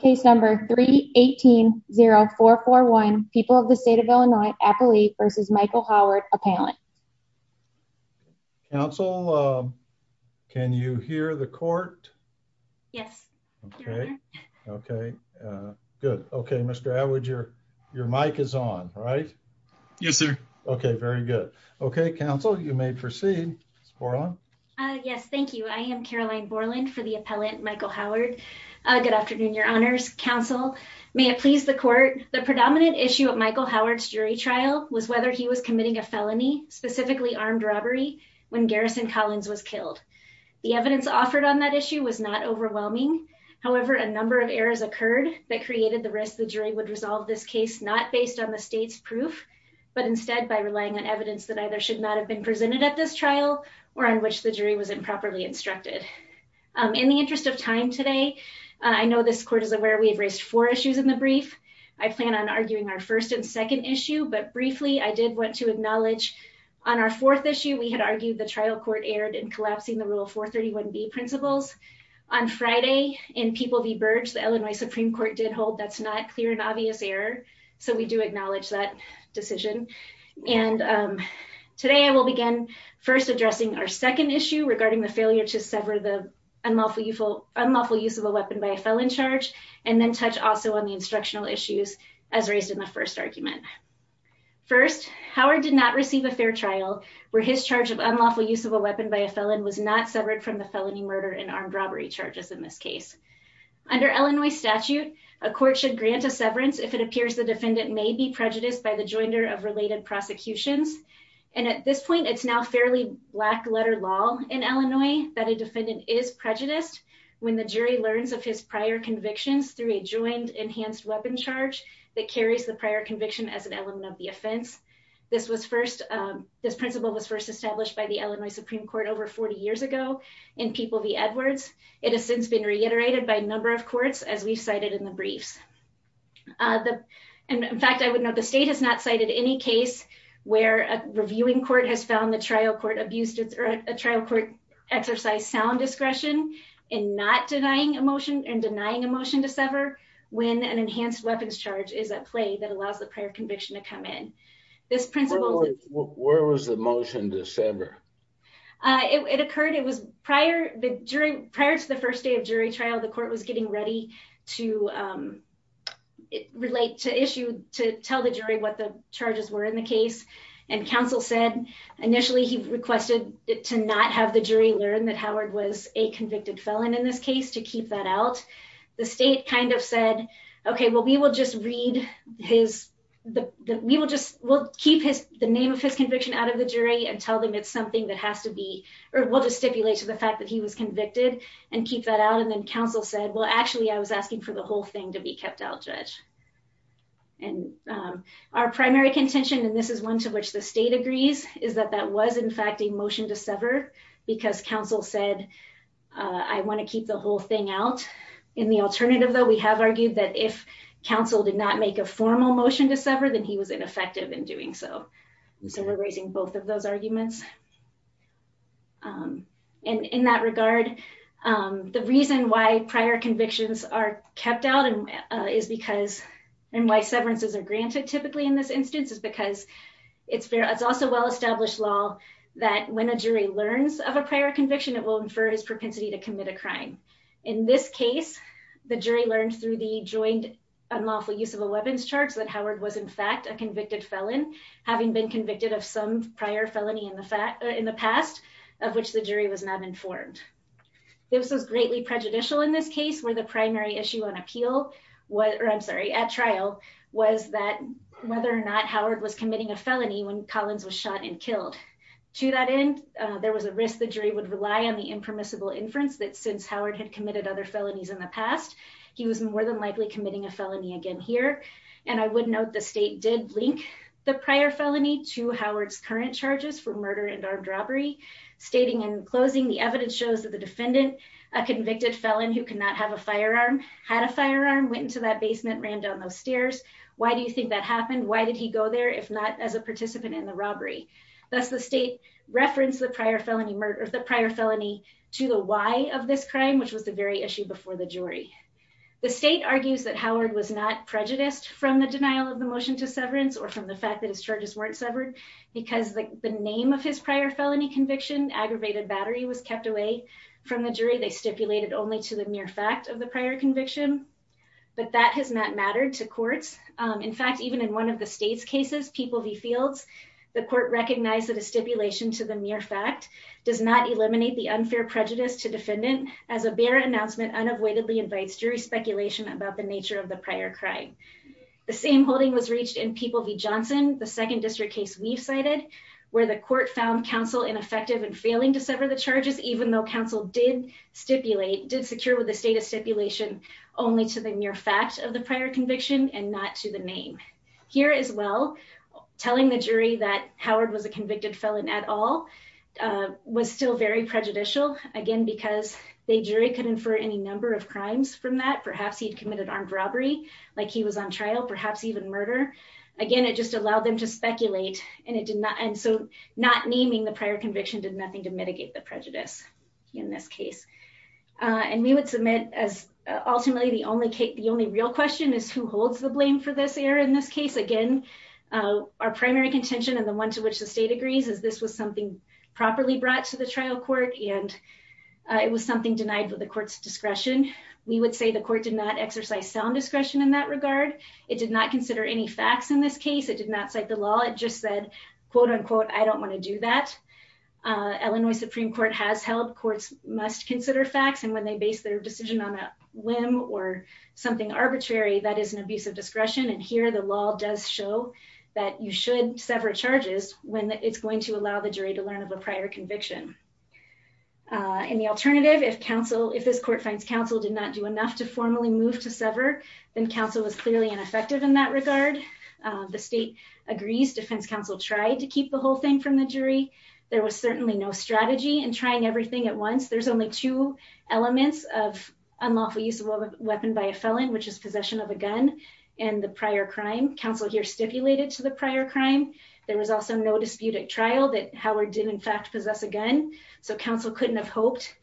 case number 318 0441 people of the state of Illinois appellee versus Michael Howard appellant counsel um can you hear the court yes okay okay uh good okay Mr. Atwood your your mic is on right yes sir okay very good okay counsel you may proceed uh yes thank you I am Caroline Borland for the appellant Michael Howard uh good afternoon your honors counsel may it please the court the predominant issue of Michael Howard's jury trial was whether he was committing a felony specifically armed robbery when Garrison Collins was killed the evidence offered on that issue was not overwhelming however a number of errors occurred that created the risk the jury would resolve this case not based on the state's proof but instead by relying on evidence that either should not have been presented at this trial or on which the jury was improperly instructed in the interest of time today I know this court is aware we have raised four issues in the brief I plan on arguing our first and second issue but briefly I did want to acknowledge on our fourth issue we had argued the trial court erred in collapsing the rule 431b principles on Friday in People v. Burge the Illinois Supreme Court did hold that's not clear and obvious error so we do acknowledge that decision and today I will begin first addressing our second issue regarding the failure to sever the unlawful use of a weapon by a felon charge and then touch also on the instructional issues as raised in the first argument first Howard did not receive a fair trial where his charge of unlawful use of a weapon by a felon was not severed from the felony murder and armed robbery charges in this case under Illinois statute a court should grant a severance if it appears the defendant may be prejudiced by the joinder of related prosecutions and at this point it's now fairly black letter law in Illinois that a defendant is prejudiced when the jury learns of his prior convictions through a joined enhanced weapon charge that carries the prior conviction as an element of the offense this was first this principle was first established by the Illinois Supreme Court over 40 years ago in People v Edwards it has since been reiterated by a number of courts as we cited in the briefs uh the and in fact I would note the state has not cited any case where a reviewing court has found the trial court abused or a trial court exercised sound discretion in not denying a motion and denying a motion to sever when an enhanced weapons charge is at play that allows the prior conviction to come in this principle where was the motion to sever uh it occurred it was prior the jury prior to the first day of jury trial the court was getting ready to um relate to issue to tell the jury what the charges were in the case and counsel said initially he requested to not have the jury learn that Howard was a convicted felon in this case to keep that out the state kind of said okay well we will just read his the we will just we'll keep his the name of his conviction out of the jury and tell them it's something that has to be or we'll just stipulate to the fact that he was convicted and keep that out and then counsel said well actually I was asking for the whole thing to be kept out judge and our primary contention and this is one to which the state agrees is that that was in fact a motion to sever because counsel said uh I want to keep the whole thing out in the alternative though we have argued that if counsel did not make a formal motion to sever then he was ineffective in doing so and so we're raising both of those arguments um and in that regard um the reason why prior convictions are kept out and uh is because and why severances are granted typically in this instance is because it's fair it's also well established law that when a jury learns of a prior conviction it will infer his propensity to commit a crime in this case the jury learned through the joint unlawful use of a weapons charts that Howard was in fact a convicted felon having been convicted of some prior felony in the fact in the past of which the jury was not informed this was greatly prejudicial in this case where the primary issue on appeal was or I'm sorry at trial was that whether or not Howard was committing a felony when Collins was shot and killed to that end there was a risk the jury would rely on the impermissible inference that since Howard had committed other felonies in the past he was more than likely committing a felony again here and I would note the state did link the prior felony to Howard's current charges for murder and armed robbery stating in closing the evidence shows that the defendant a convicted felon who could not have a firearm had a firearm went into that basement ran down those stairs why do you think that happened why did he go there if not as a participant in the robbery thus the state referenced the prior felony murder the prior felony to the why of this crime which was the very issue before the jury the state argues that Howard was not prejudiced from the denial of the motion to severance or from the fact that his charges weren't severed because the name of his prior felony conviction aggravated battery was kept away from the jury they stipulated only to the mere fact of the prior conviction but that has not mattered to courts in fact even in one of the state's cases people v fields the court recognized that a stipulation to the mere fact does not eliminate the unfair prejudice to defendant as a bare announcement unavoidably invites jury speculation about the nature of the prior crime the same holding was reached in people v johnson the second district case we've cited where the court found counsel ineffective and failing to sever the charges even though counsel did stipulate did secure with the state of stipulation only to the mere fact of the prior was a convicted felon at all was still very prejudicial again because the jury could infer any number of crimes from that perhaps he'd committed armed robbery like he was on trial perhaps even murder again it just allowed them to speculate and it did not and so not naming the prior conviction did nothing to mitigate the prejudice in this case and we would submit as ultimately the only case the only real question is who holds the blame for this error in this case again our primary contention and the one to which the state agrees is this was something properly brought to the trial court and it was something denied for the court's discretion we would say the court did not exercise sound discretion in that regard it did not consider any facts in this case it did not cite the law it just said quote unquote i don't want to do that illinois supreme court has held courts must consider facts and when they base their decision on a whim or something arbitrary that is an abuse of discretion and here the law does show that you should sever charges when it's going to allow the jury to learn of a prior conviction and the alternative if counsel if this court finds counsel did not do enough to formally move to sever then counsel was clearly ineffective in that regard the state agrees defense counsel tried to keep the whole thing from the jury there was certainly no strategy and trying everything at there's only two elements of unlawful use of a weapon by a felon which is possession of a gun and the prior crime counsel here stipulated to the prior crime there was also no dispute at trial that howard did in fact possess a gun so counsel couldn't have hoped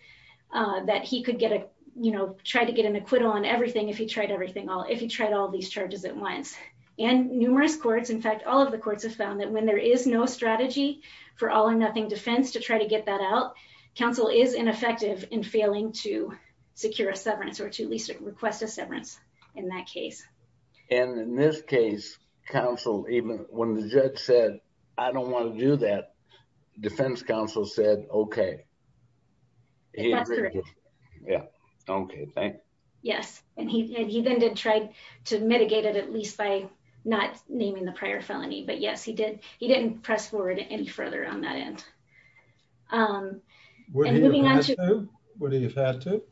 uh that he could get a you know try to get an acquittal on everything if he tried everything all if he tried all these charges at once and numerous courts in fact all of the courts have found that when there is no strategy for all or nothing defense to try to get that out counsel is ineffective in failing to secure a severance or to at least request a severance in that case and in this case counsel even when the judge said i don't want to do that defense counsel said okay yeah okay thanks yes and he he then did try to mitigate it at least by not naming the prior felony but yes he did he didn't press forward any further on that end um what do you have to what do you have to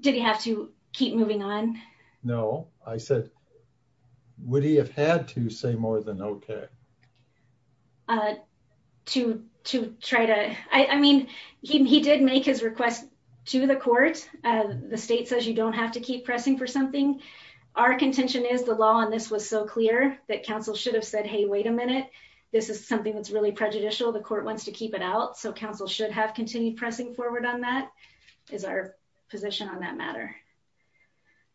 did he have to keep moving on no i said would he have had to say more than okay uh to to try to i mean he did make his request to the court uh the state says you don't have to keep pressing for something our contention is the law on this was so clear that counsel should have said hey wait a minute this is something that's really prejudicial the court wants to keep it out so counsel should have continued pressing forward on that is our position on that matter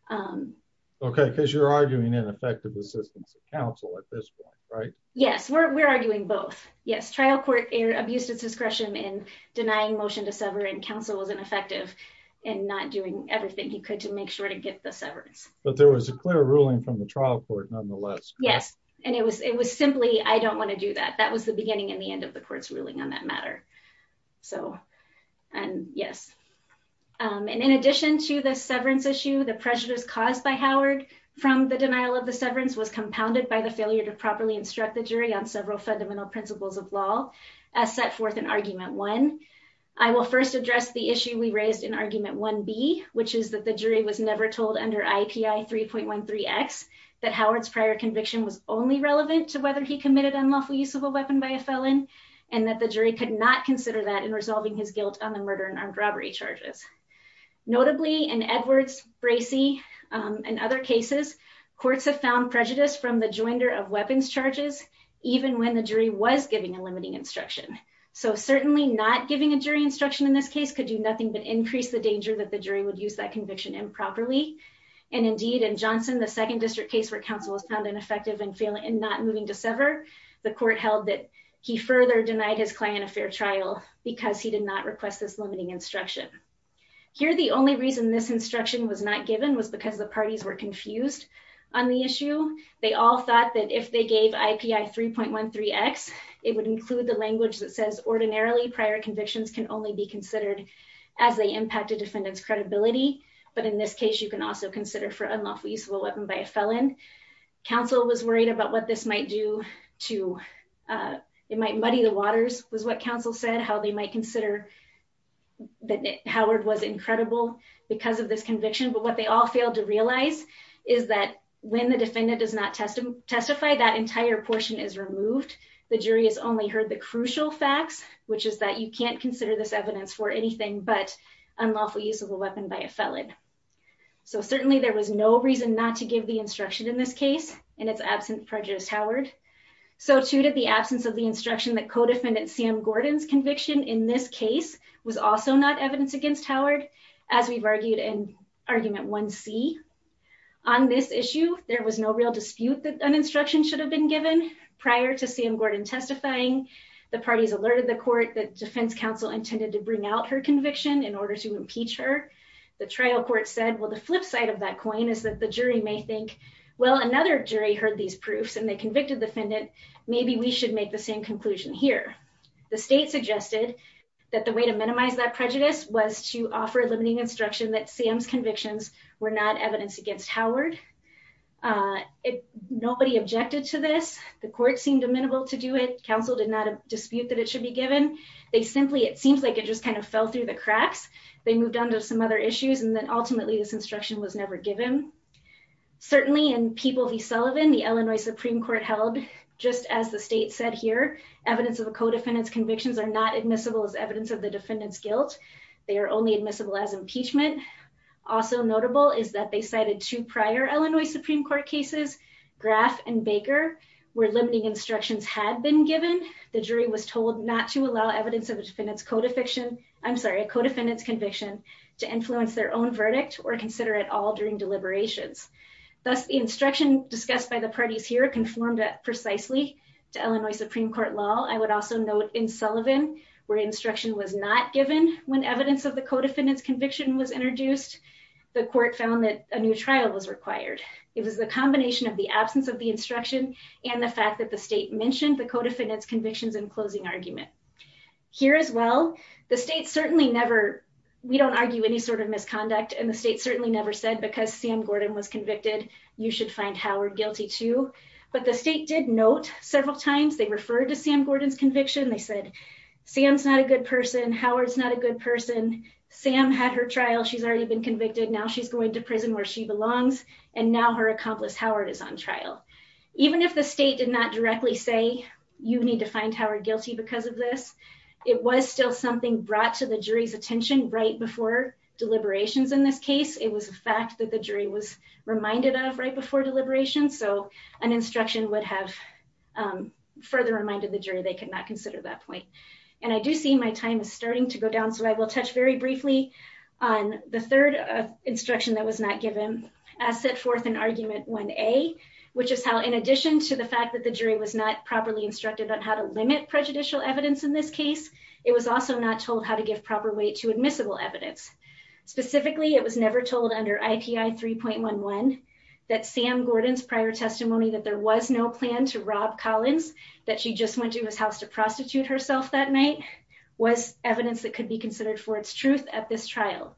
um okay because you're arguing ineffective assistance of counsel at this point right yes we're arguing both yes trial court abused its discretion in denying motion to sever and counsel wasn't effective and not doing everything he could to make sure to get the severance but there was a clear ruling from the trial court nonetheless yes and it was it was simply i don't want to do that that was the beginning and the end of the court's ruling on that matter so and yes um and in addition to the severance issue the prejudice caused by howard from the denial of the severance was compounded by the failure to properly instruct the jury on several fundamental principles of law as set forth in argument one i will first address the under ipi 3.13x that howard's prior conviction was only relevant to whether he committed unlawful use of a weapon by a felon and that the jury could not consider that in resolving his guilt on the murder and armed robbery charges notably in edwards bracey and other cases courts have found prejudice from the joinder of weapons charges even when the jury was giving a limiting instruction so certainly not giving a jury instruction in this case could do nothing but increase the danger that the jury would use that conviction improperly and indeed in johnson the second district case where counsel was found ineffective and failing and not moving to sever the court held that he further denied his client a fair trial because he did not request this limiting instruction here the only reason this instruction was not given was because the parties were confused on the issue they all thought that if they gave ipi 3.13x it would include the language that says ordinarily prior convictions can only be considered as they impact a defendant's credibility but in this case you can also consider for unlawful use of a weapon by a felon counsel was worried about what this might do to uh it might muddy the waters was what counsel said how they might consider that howard was incredible because of this conviction but what they all failed to realize is that when the defendant does not testify that entire portion is removed the jury has no reason not to give the instruction in this case and it's absent prejudice howard so too did the absence of the instruction that co-defendant sam gordon's conviction in this case was also not evidence against howard as we've argued in argument 1c on this issue there was no real dispute that an instruction should have been given prior to sam gordon testifying the counsel intended to bring out her conviction in order to impeach her the trial court said well the flip side of that coin is that the jury may think well another jury heard these proofs and they convicted the defendant maybe we should make the same conclusion here the state suggested that the way to minimize that prejudice was to offer limiting instruction that sam's convictions were not evidence against howard uh nobody objected to this the court seemed amenable to counsel did not dispute that it should be given they simply it seems like it just kind of fell through the cracks they moved on to some other issues and then ultimately this instruction was never given certainly in people v sullivan the illinois supreme court held just as the state said here evidence of a co-defendant's convictions are not admissible as evidence of the defendant's guilt they are only admissible as impeachment also notable is that they cited two prior supreme court cases graf and baker where limiting instructions had been given the jury was told not to allow evidence of a defendant's code of fiction i'm sorry a co-defendant's conviction to influence their own verdict or consider it all during deliberations thus the instruction discussed by the parties here conformed precisely to illinois supreme court law i would also note in sullivan where instruction was not given when evidence of the co-defendant's conviction was it was the combination of the absence of the instruction and the fact that the state mentioned the co-defendant's convictions in closing argument here as well the state certainly never we don't argue any sort of misconduct and the state certainly never said because sam gordon was convicted you should find howard guilty too but the state did note several times they referred to sam gordon's conviction they said sam's not a good person howard's not a good person sam had her trial she's already been convicted now she's going to prison where she belongs and now her accomplice howard is on trial even if the state did not directly say you need to find howard guilty because of this it was still something brought to the jury's attention right before deliberations in this case it was a fact that the jury was reminded of right before deliberations so an instruction would have further reminded the jury they could not consider that point and i do see my time is starting to go down so i will touch very briefly on the third instruction that was not given as set forth in argument 1a which is how in addition to the fact that the jury was not properly instructed on how to limit prejudicial evidence in this case it was also not told how to give proper weight to admissible evidence specifically it was never told under ipi 3.11 that sam gordon's prior testimony that there was no plan to rob collins that she just went to his house to prostitute herself that night was evidence that could be considered for truth at this trial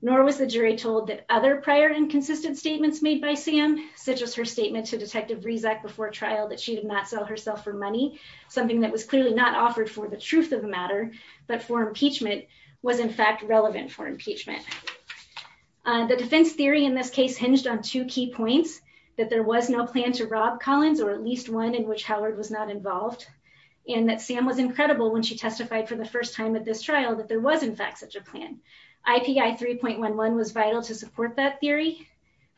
nor was the jury told that other prior inconsistent statements made by sam such as her statement to detective rezak before trial that she did not sell herself for money something that was clearly not offered for the truth of the matter but for impeachment was in fact relevant for impeachment the defense theory in this case hinged on two key points that there was no plan to rob collins or at least one in which howard was not involved and that sam was incredible when she testified for the first time at this trial that there was in fact such a plan ipi 3.11 was vital to support that theory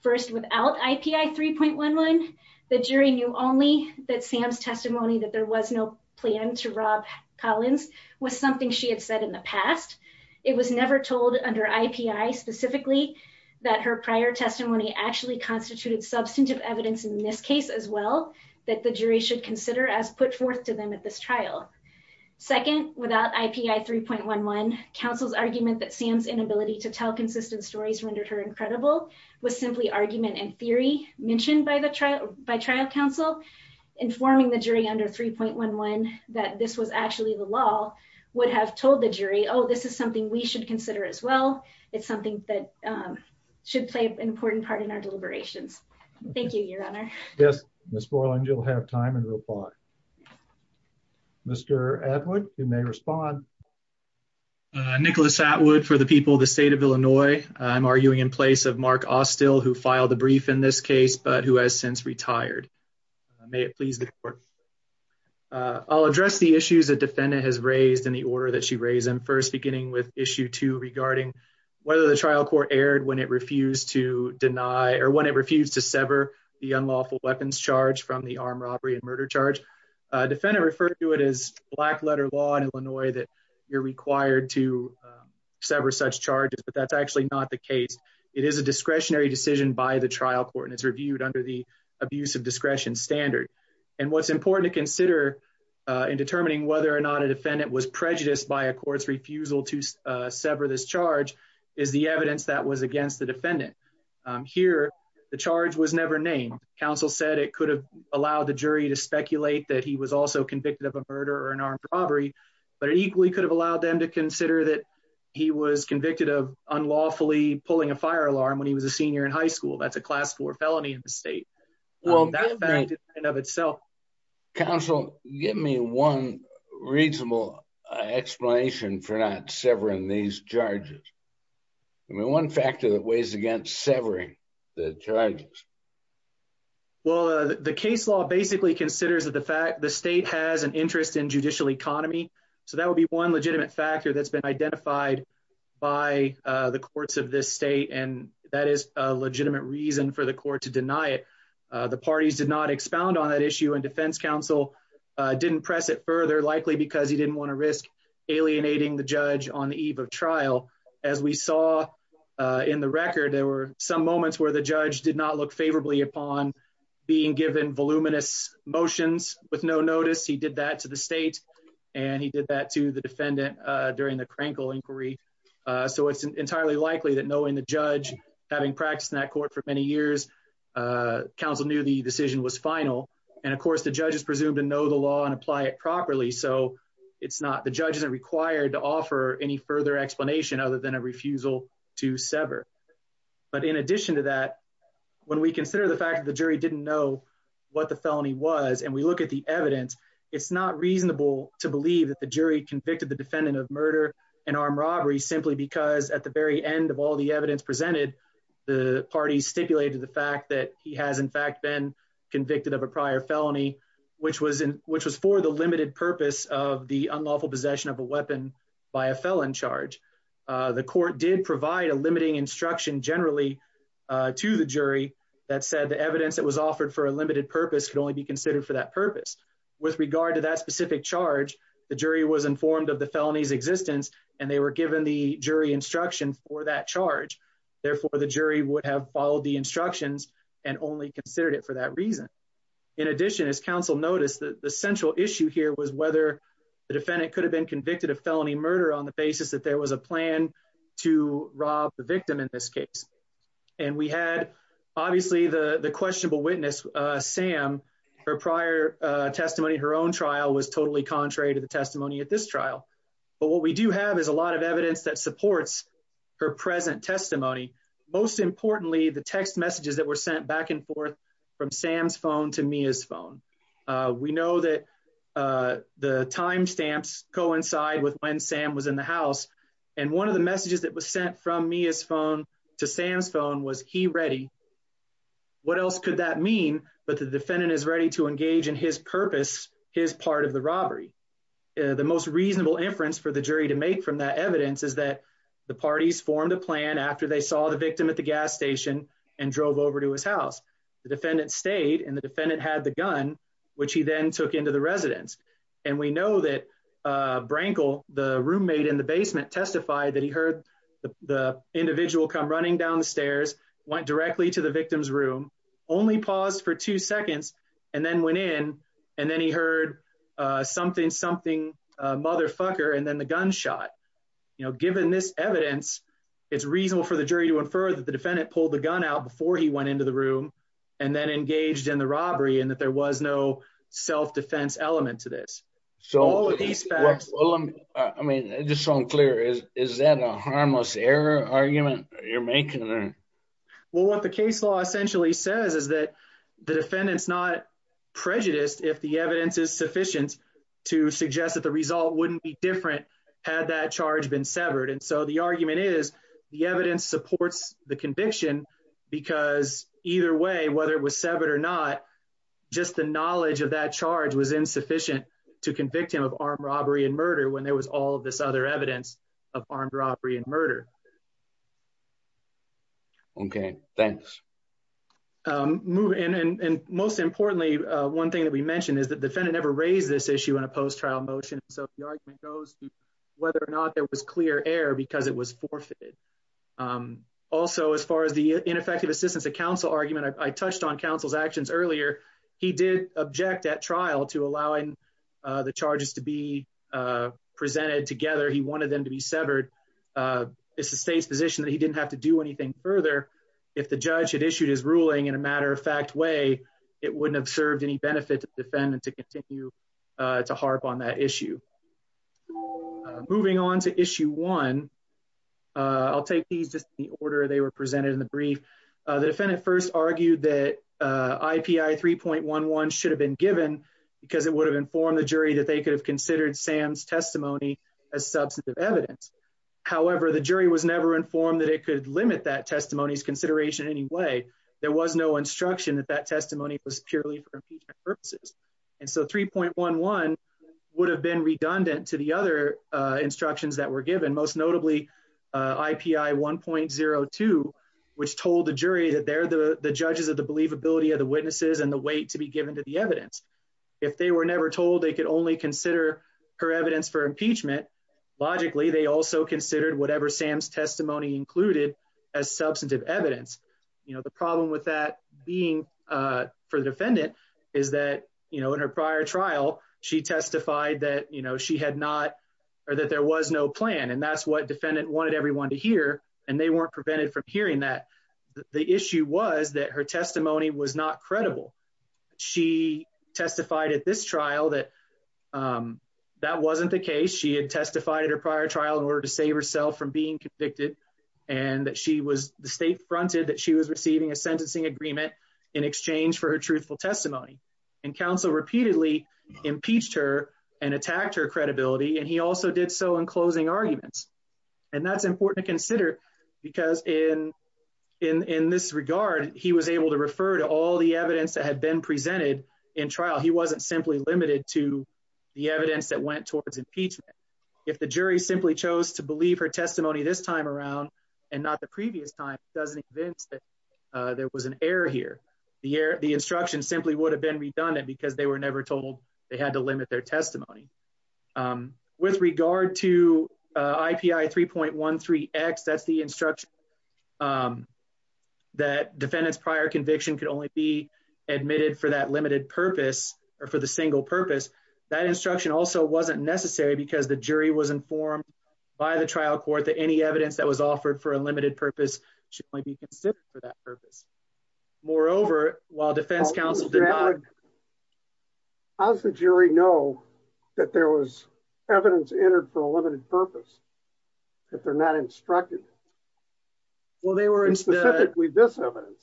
first without ipi 3.11 the jury knew only that sam's testimony that there was no plan to rob collins was something she had said in the past it was never told under ipi specifically that her prior testimony actually constituted substantive evidence in this case as well that the jury should consider as put forth to them at this trial second without ipi 3.11 counsel's argument that sam's inability to tell consistent stories rendered her incredible was simply argument and theory mentioned by the trial by trial counsel informing the jury under 3.11 that this was actually the law would have told the jury oh this is something we should consider as well it's something that should play an important part in our deliberations thank you your honor yes miss morland you'll have time and reply mr atwood you may respond uh nicholas atwood for the people of the state of illinois i'm arguing in place of mark ostil who filed the brief in this case but who has since retired may it please the court uh i'll address the issues the defendant has raised in the order that she raised them first beginning with issue two regarding whether the trial court aired when it refused to deny or when it refused to sever the unlawful weapons charge from the armed robbery and murder charge uh defendant referred to it as black letter law in illinois that you're required to sever such charges but that's actually not the case it is a discretionary decision by the trial court and it's reviewed under the abuse of discretion standard and what's important to consider uh in determining whether or not a defendant was prejudiced by a court's refusal to uh sever this charge is the evidence that was against the defendant um here the charge was that he was also convicted of a murder or an armed robbery but it equally could have allowed them to consider that he was convicted of unlawfully pulling a fire alarm when he was a senior in high school that's a class four felony in the state well that in and of itself counsel give me one reasonable explanation for not severing these charges i mean one factor that weighs against severing the charges well the case law basically considers that the fact the state has an interest in judicial economy so that would be one legitimate factor that's been identified by uh the courts of this state and that is a legitimate reason for the court to deny it the parties did not expound on that issue and defense counsel uh didn't press it further likely because he didn't want to risk alienating the judge on the eve of trial as we saw uh in the record there were some moments where the judge did not look favorably upon being given voluminous motions with no notice he did that to the state and he did that to the defendant uh during the crankle inquiry uh so it's entirely likely that knowing the judge having practiced in that court for many years uh council knew the decision was final and of course the judge is presumed to know the law and apply it properly so it's not the judge isn't required to offer any further explanation other than a refusal to sever but in addition to that when we consider the fact that the jury didn't know what the felony was and we look at the evidence it's not reasonable to believe that the jury convicted the defendant of murder and armed robbery simply because at the very end of all the evidence presented the party stipulated the fact that he has in fact been convicted of a prior felony which was in which was for the limited purpose of the unlawful possession of a weapon by a felon charge uh the court did provide a limiting instruction generally uh to the jury that said the evidence that was offered for a limited purpose could only be considered for that purpose with regard to that specific charge the jury was informed of the felony's existence and they were given the jury instruction for that charge therefore the jury would have followed the instructions and only considered it for that in addition as council noticed that the central issue here was whether the defendant could have been convicted of felony murder on the basis that there was a plan to rob the victim in this case and we had obviously the the questionable witness uh sam her prior uh testimony her own trial was totally contrary to the testimony at this trial but what we do have is a lot of evidence that supports her present testimony most importantly the text messages that were sent back and forth from sam's phone to mia's phone uh we know that uh the time stamps coincide with when sam was in the house and one of the messages that was sent from mia's phone to sam's phone was he ready what else could that mean but the defendant is ready to engage in his purpose his part of the robbery the most reasonable inference for the jury to make from that evidence is that the parties formed a plan after they saw the victim at the gas station and drove over to his house the defendant stayed and the defendant had the gun which he then took into the residence and we know that uh brankle the roommate in the basement testified that he heard the individual come running down the stairs went directly to the victim's room only paused for two seconds and then went in and then he heard uh something something uh motherfucker and then the gun shot you know given this evidence it's reasonable for the jury to infer that the defendant pulled the gun out before he went into the room and then engaged in the robbery and that there was no self-defense element to this so all of these facts i mean just so i'm clear is is that a harmless error argument you're making or well what the case law essentially says is that the defendant's not prejudiced if the evidence is sufficient to suggest that the result wouldn't be different had that charge been severed and so the argument is the evidence supports the conviction because either way whether it was severed or not just the knowledge of that charge was insufficient to convict him of armed robbery and murder when there was all this other evidence of armed robbery and murder okay thanks um moving and and most importantly uh one thing that we mentioned is the defendant never raised this issue in a post-trial motion so the argument goes to whether or not there was clear air because it was forfeited um also as far as the ineffective assistance of counsel argument i touched on counsel's actions earlier he did object at trial to allowing uh the charges to be uh presented together he wanted them to be severed uh it's the state's position that he didn't have to do anything further if the judge had issued his ruling in a matter-of-fact way it wouldn't have served any benefit to defend and to uh to harp on that issue moving on to issue one uh i'll take these just in the order they were presented in the brief uh the defendant first argued that uh ipi 3.11 should have been given because it would have informed the jury that they could have considered sam's testimony as substantive evidence however the jury was never informed that it could limit that testimony's consideration in any way there was no instruction that that testimony was purely for impeachment and so 3.11 would have been redundant to the other uh instructions that were given most notably ipi 1.02 which told the jury that they're the the judges of the believability of the witnesses and the weight to be given to the evidence if they were never told they could only consider her evidence for impeachment logically they also considered whatever sam's testimony included as substantive evidence you know the problem with that being uh for the defendant is that you know in her prior trial she testified that you know she had not or that there was no plan and that's what defendant wanted everyone to hear and they weren't prevented from hearing that the issue was that her testimony was not credible she testified at this trial that um that wasn't the case she had she was the state fronted that she was receiving a sentencing agreement in exchange for her truthful testimony and counsel repeatedly impeached her and attacked her credibility and he also did so in closing arguments and that's important to consider because in in in this regard he was able to refer to all the evidence that had been presented in trial he wasn't simply limited to the evidence that went towards impeachment if the jury simply chose to believe her testimony this time around and not the previous time doesn't convince that there was an error here the year the instruction simply would have been redundant because they were never told they had to limit their testimony with regard to ipi 3.13 x that's the instruction that defendant's prior conviction could only be admitted for that limited purpose or for the single purpose that instruction also wasn't necessary because the jury was informed by the trial court that any evidence that was offered for a limited purpose should only be considered for that purpose moreover while defense counsel did not how's the jury know that there was evidence entered for a limited purpose that they're not instructed well they were specifically this evidence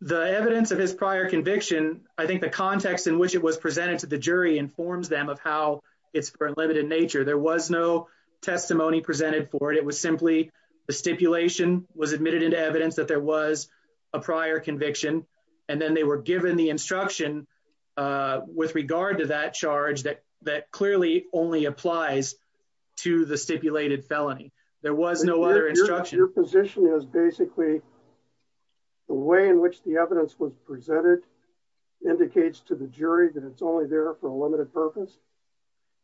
the evidence of his prior conviction i think the context in which it was presented to the jury informs them of how it's for limited nature there was no testimony presented for it it was simply the stipulation was admitted into evidence that there was a prior conviction and then they were given the instruction uh with regard to that charge that that clearly only applies to the stipulated felony there was no other instruction your position is basically the way in which the purpose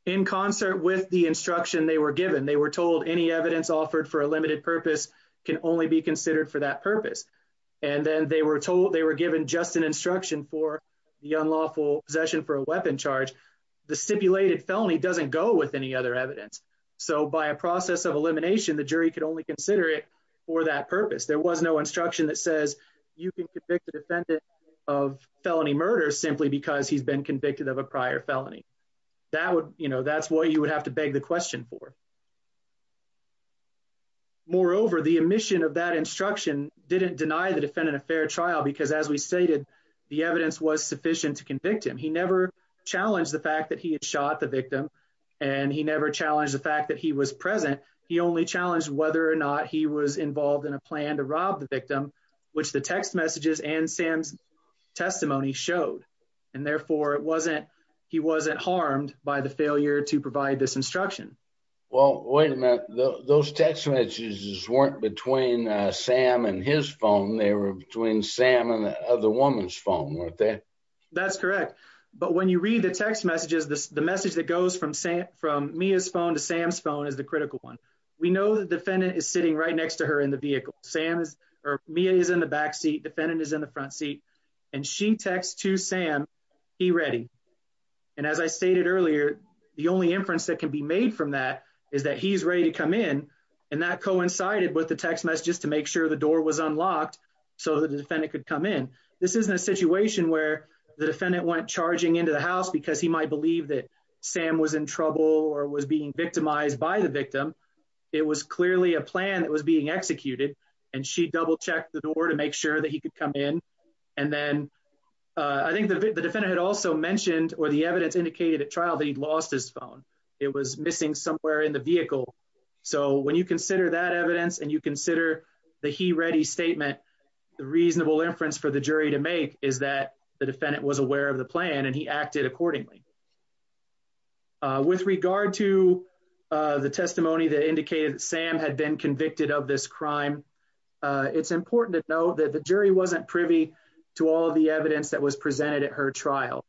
in concert with the instruction they were given they were told any evidence offered for a limited purpose can only be considered for that purpose and then they were told they were given just an instruction for the unlawful possession for a weapon charge the stipulated felony doesn't go with any other evidence so by a process of elimination the jury could only consider it for that purpose there was no instruction that says you can convict the defendant of felony murder simply because he's been convicted of a prior felony that would you know that's what you would have to beg the question for moreover the omission of that instruction didn't deny the defendant a fair trial because as we stated the evidence was sufficient to convict him he never challenged the fact that he had shot the victim and he never challenged the fact that he was present he only challenged whether or not he was involved in a plan to rob the victim which the text messages and sam's testimony showed and therefore it wasn't he wasn't harmed by the failure to provide this instruction well wait a minute those text messages weren't between uh sam and his phone they were between sam and the other woman's phone weren't they that's correct but when you read the text messages this the message that goes from sam from mia's phone to sam's phone is the critical one we know the defendant is sitting right next to her in the sam's or mia is in the back seat defendant is in the front seat and she texts to sam he ready and as i stated earlier the only inference that can be made from that is that he's ready to come in and that coincided with the text messages to make sure the door was unlocked so the defendant could come in this isn't a situation where the defendant went charging into the house because he might believe that sam was in trouble or was being victimized by the victim it was clearly a and she double-checked the door to make sure that he could come in and then i think the defendant had also mentioned or the evidence indicated at trial that he'd lost his phone it was missing somewhere in the vehicle so when you consider that evidence and you consider the he ready statement the reasonable inference for the jury to make is that the defendant was aware of the plan and he acted accordingly uh with regard to uh the testimony that indicated sam had been convicted of this crime uh it's important to know that the jury wasn't privy to all the evidence that was presented at her trial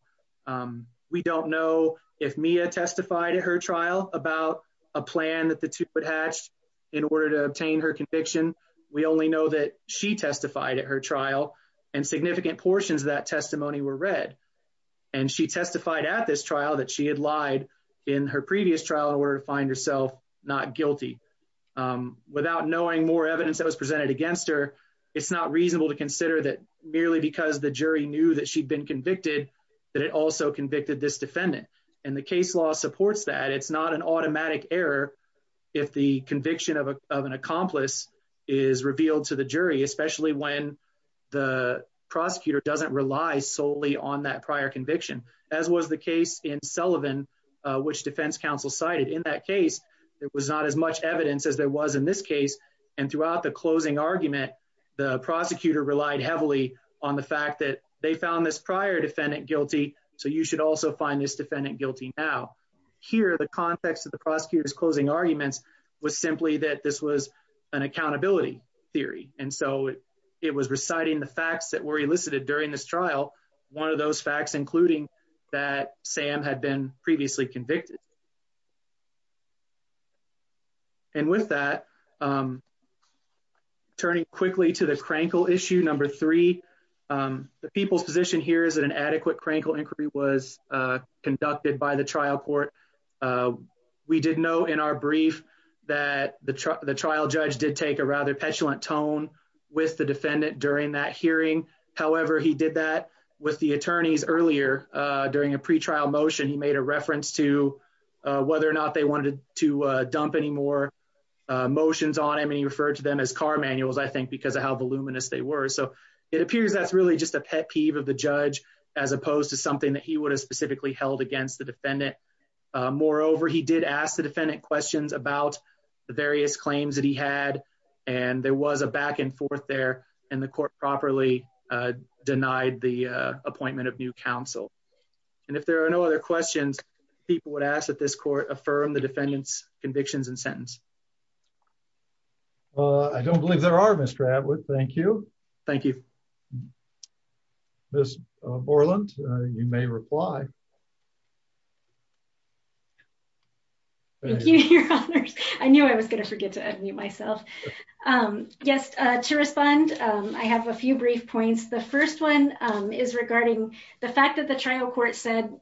um we don't know if mia testified at her trial about a plan that the two would hatch in order to obtain her conviction we only know that she testified at her trial and significant portions of that testimony were read and she testified at this without knowing more evidence that was presented against her it's not reasonable to consider that merely because the jury knew that she'd been convicted that it also convicted this defendant and the case law supports that it's not an automatic error if the conviction of a of an accomplice is revealed to the jury especially when the prosecutor doesn't rely solely on that prior conviction as was the case in sullivan which defense counsel cited in that case there was and throughout the closing argument the prosecutor relied heavily on the fact that they found this prior defendant guilty so you should also find this defendant guilty now here the context of the prosecutor's closing arguments was simply that this was an accountability theory and so it was reciting the facts that were elicited during this trial one of those facts including that sam had been previously convicted and with that um turning quickly to the crankle issue number three um the people's position here is that an adequate crankle inquiry was uh conducted by the trial court uh we did know in our brief that the trial judge did take a rather petulant tone with the defendant during that hearing however he did that with the attorneys earlier uh during a pre-trial motion he made a whether or not they wanted to dump any more motions on him and he referred to them as car manuals i think because of how voluminous they were so it appears that's really just a pet peeve of the judge as opposed to something that he would have specifically held against the defendant moreover he did ask the defendant questions about the various claims that he had and there was a back and forth there and the court properly denied the appointment of new counsel and if there are no other questions people would ask that this court affirm the defendant's convictions and sentence uh i don't believe there are mr adwood thank you thank you miss borland you may reply i knew i was going to forget to unmute myself um yes uh to respond um i have a few brief points the first one um is regarding the fact that the trial court said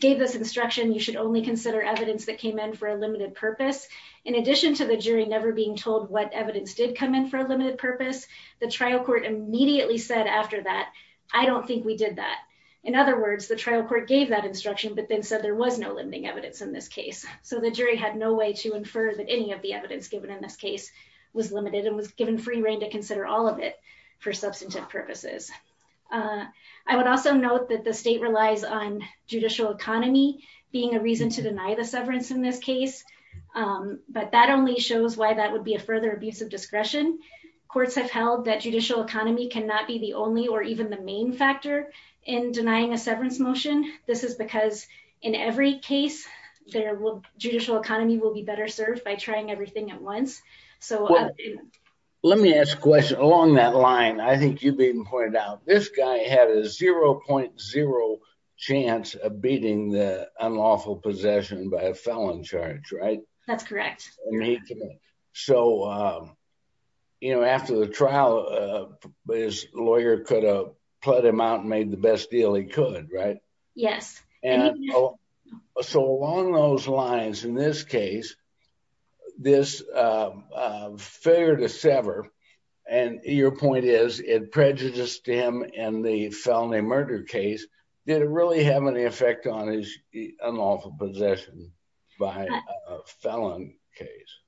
gave this instruction you should only consider evidence that came in for a limited purpose in addition to the jury never being told what evidence did come in for a limited purpose the trial court immediately said after that i don't think we did that in other words the trial court gave that instruction but then said there was no limiting evidence in this case so the jury had no way to infer that any of the evidence given in this case was limited and was given free reign to consider all of it for substantive purposes i would also note that the state relies on judicial economy being a reason to deny the severance in this case but that only shows why that would be a further abuse of discretion courts have held that judicial economy cannot be the only or even the main factor in denying a severance motion this is because in every case their judicial economy will be served by trying everything at once so let me ask a question along that line i think you've been pointed out this guy had a 0.0 chance of beating the unlawful possession by a felon charge right that's correct so um you know after the trial uh his lawyer could have put him out and this failure to sever and your point is it prejudiced him in the felony murder case did it really have any effect on his unlawful possession by a felon case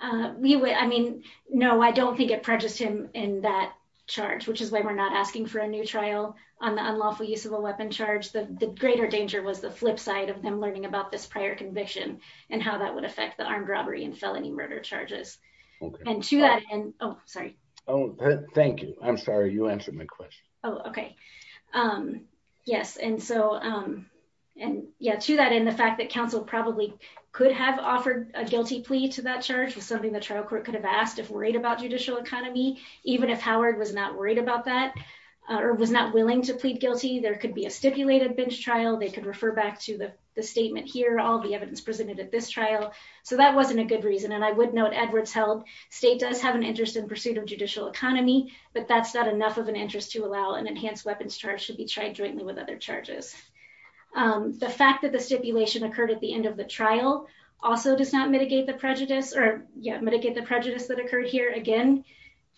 uh we would i mean no i don't think it prejudiced him in that charge which is why we're not asking for a new trial on the unlawful use of a weapon charge the greater danger was the flip side of learning about this prior conviction and how that would affect the armed robbery and felony murder charges okay and to that end oh sorry oh thank you i'm sorry you answered my question oh okay um yes and so um and yeah to that end the fact that council probably could have offered a guilty plea to that charge was something the trial court could have asked if worried about judicial economy even if howard was not worried about that or was not willing to plead guilty there could be a stipulated bench trial they could refer back to the statement here all the evidence presented at this trial so that wasn't a good reason and i would note edwards held state does have an interest in pursuit of judicial economy but that's not enough of an interest to allow an enhanced weapons charge to be tried jointly with other charges um the fact that the stipulation occurred at the end of the trial also does not mitigate the prejudice or yeah mitigate the prejudice that occurred here again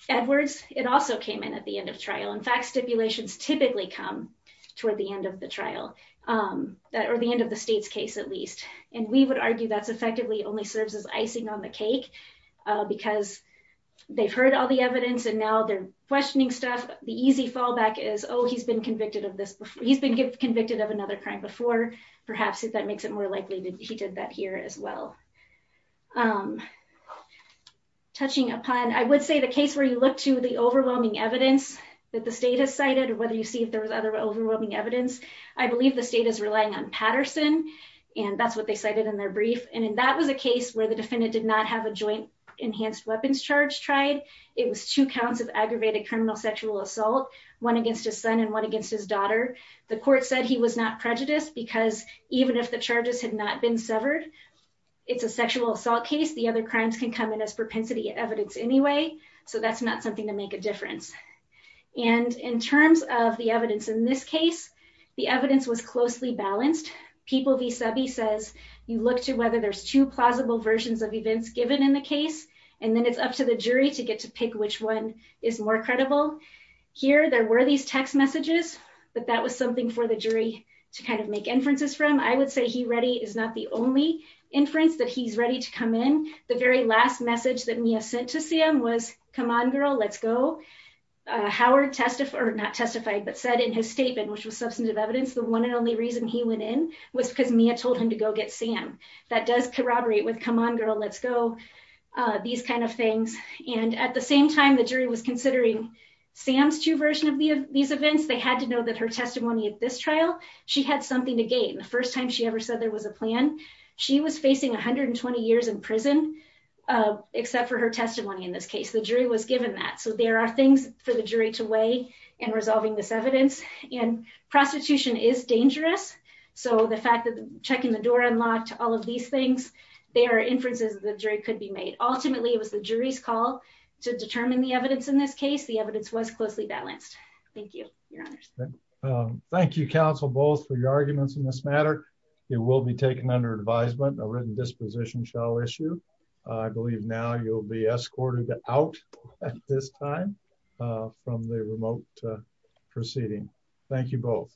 edwards it also came in at the end of trial in fact stipulations typically come toward the end of the trial um that or the end of the state's case at least and we would argue that's effectively only serves as icing on the cake uh because they've heard all the evidence and now they're questioning stuff the easy fallback is oh he's been convicted of this before he's been convicted of another crime before perhaps if that makes it more likely that he did that here as well um touching upon i would say the case where you look to the overwhelming evidence that the state has cited or whether you see if there was other overwhelming evidence i believe the state is relying on patterson and that's what they cited in their brief and that was a case where the defendant did not have a joint enhanced weapons charge tried it was two counts of aggravated criminal sexual assault one against his son and one against his daughter the court said he was not prejudiced because even if the charges had not been severed it's a sexual assault case the other crimes can come in as propensity evidence anyway so that's not something to make a difference and in terms of the evidence in this case the evidence was closely balanced people vis-a-vis says you look to whether there's two plausible versions of events given in the case and then it's up to the jury to get to pick which one is more credible here there were these text messages but that was something for the jury to kind of make inferences from i would say he ready is not the only inference that he's ready to come in the very last message that mia sent to sam was come on girl let's go howard testified or not testified but said in his statement which was substantive evidence the one and only reason he went in was because mia told him to go get sam that does corroborate with come on girl let's go uh these kind of things and at the same time the jury was considering sam's true version of the these events they had to know that her testimony at this trial she had something to gain the first time she ever said there was a plan she was facing 120 years in prison except for her testimony in this case the jury was given that so there are things for the jury to weigh in resolving this evidence and prostitution is dangerous so the fact that checking the door unlocked all of these things there are inferences the jury could be made ultimately it was the jury's call to determine the evidence in this case the evidence was closely balanced thank you your it will be taken under advisement a written disposition shall issue i believe now you'll be escorted out at this time from the remote proceeding thank you both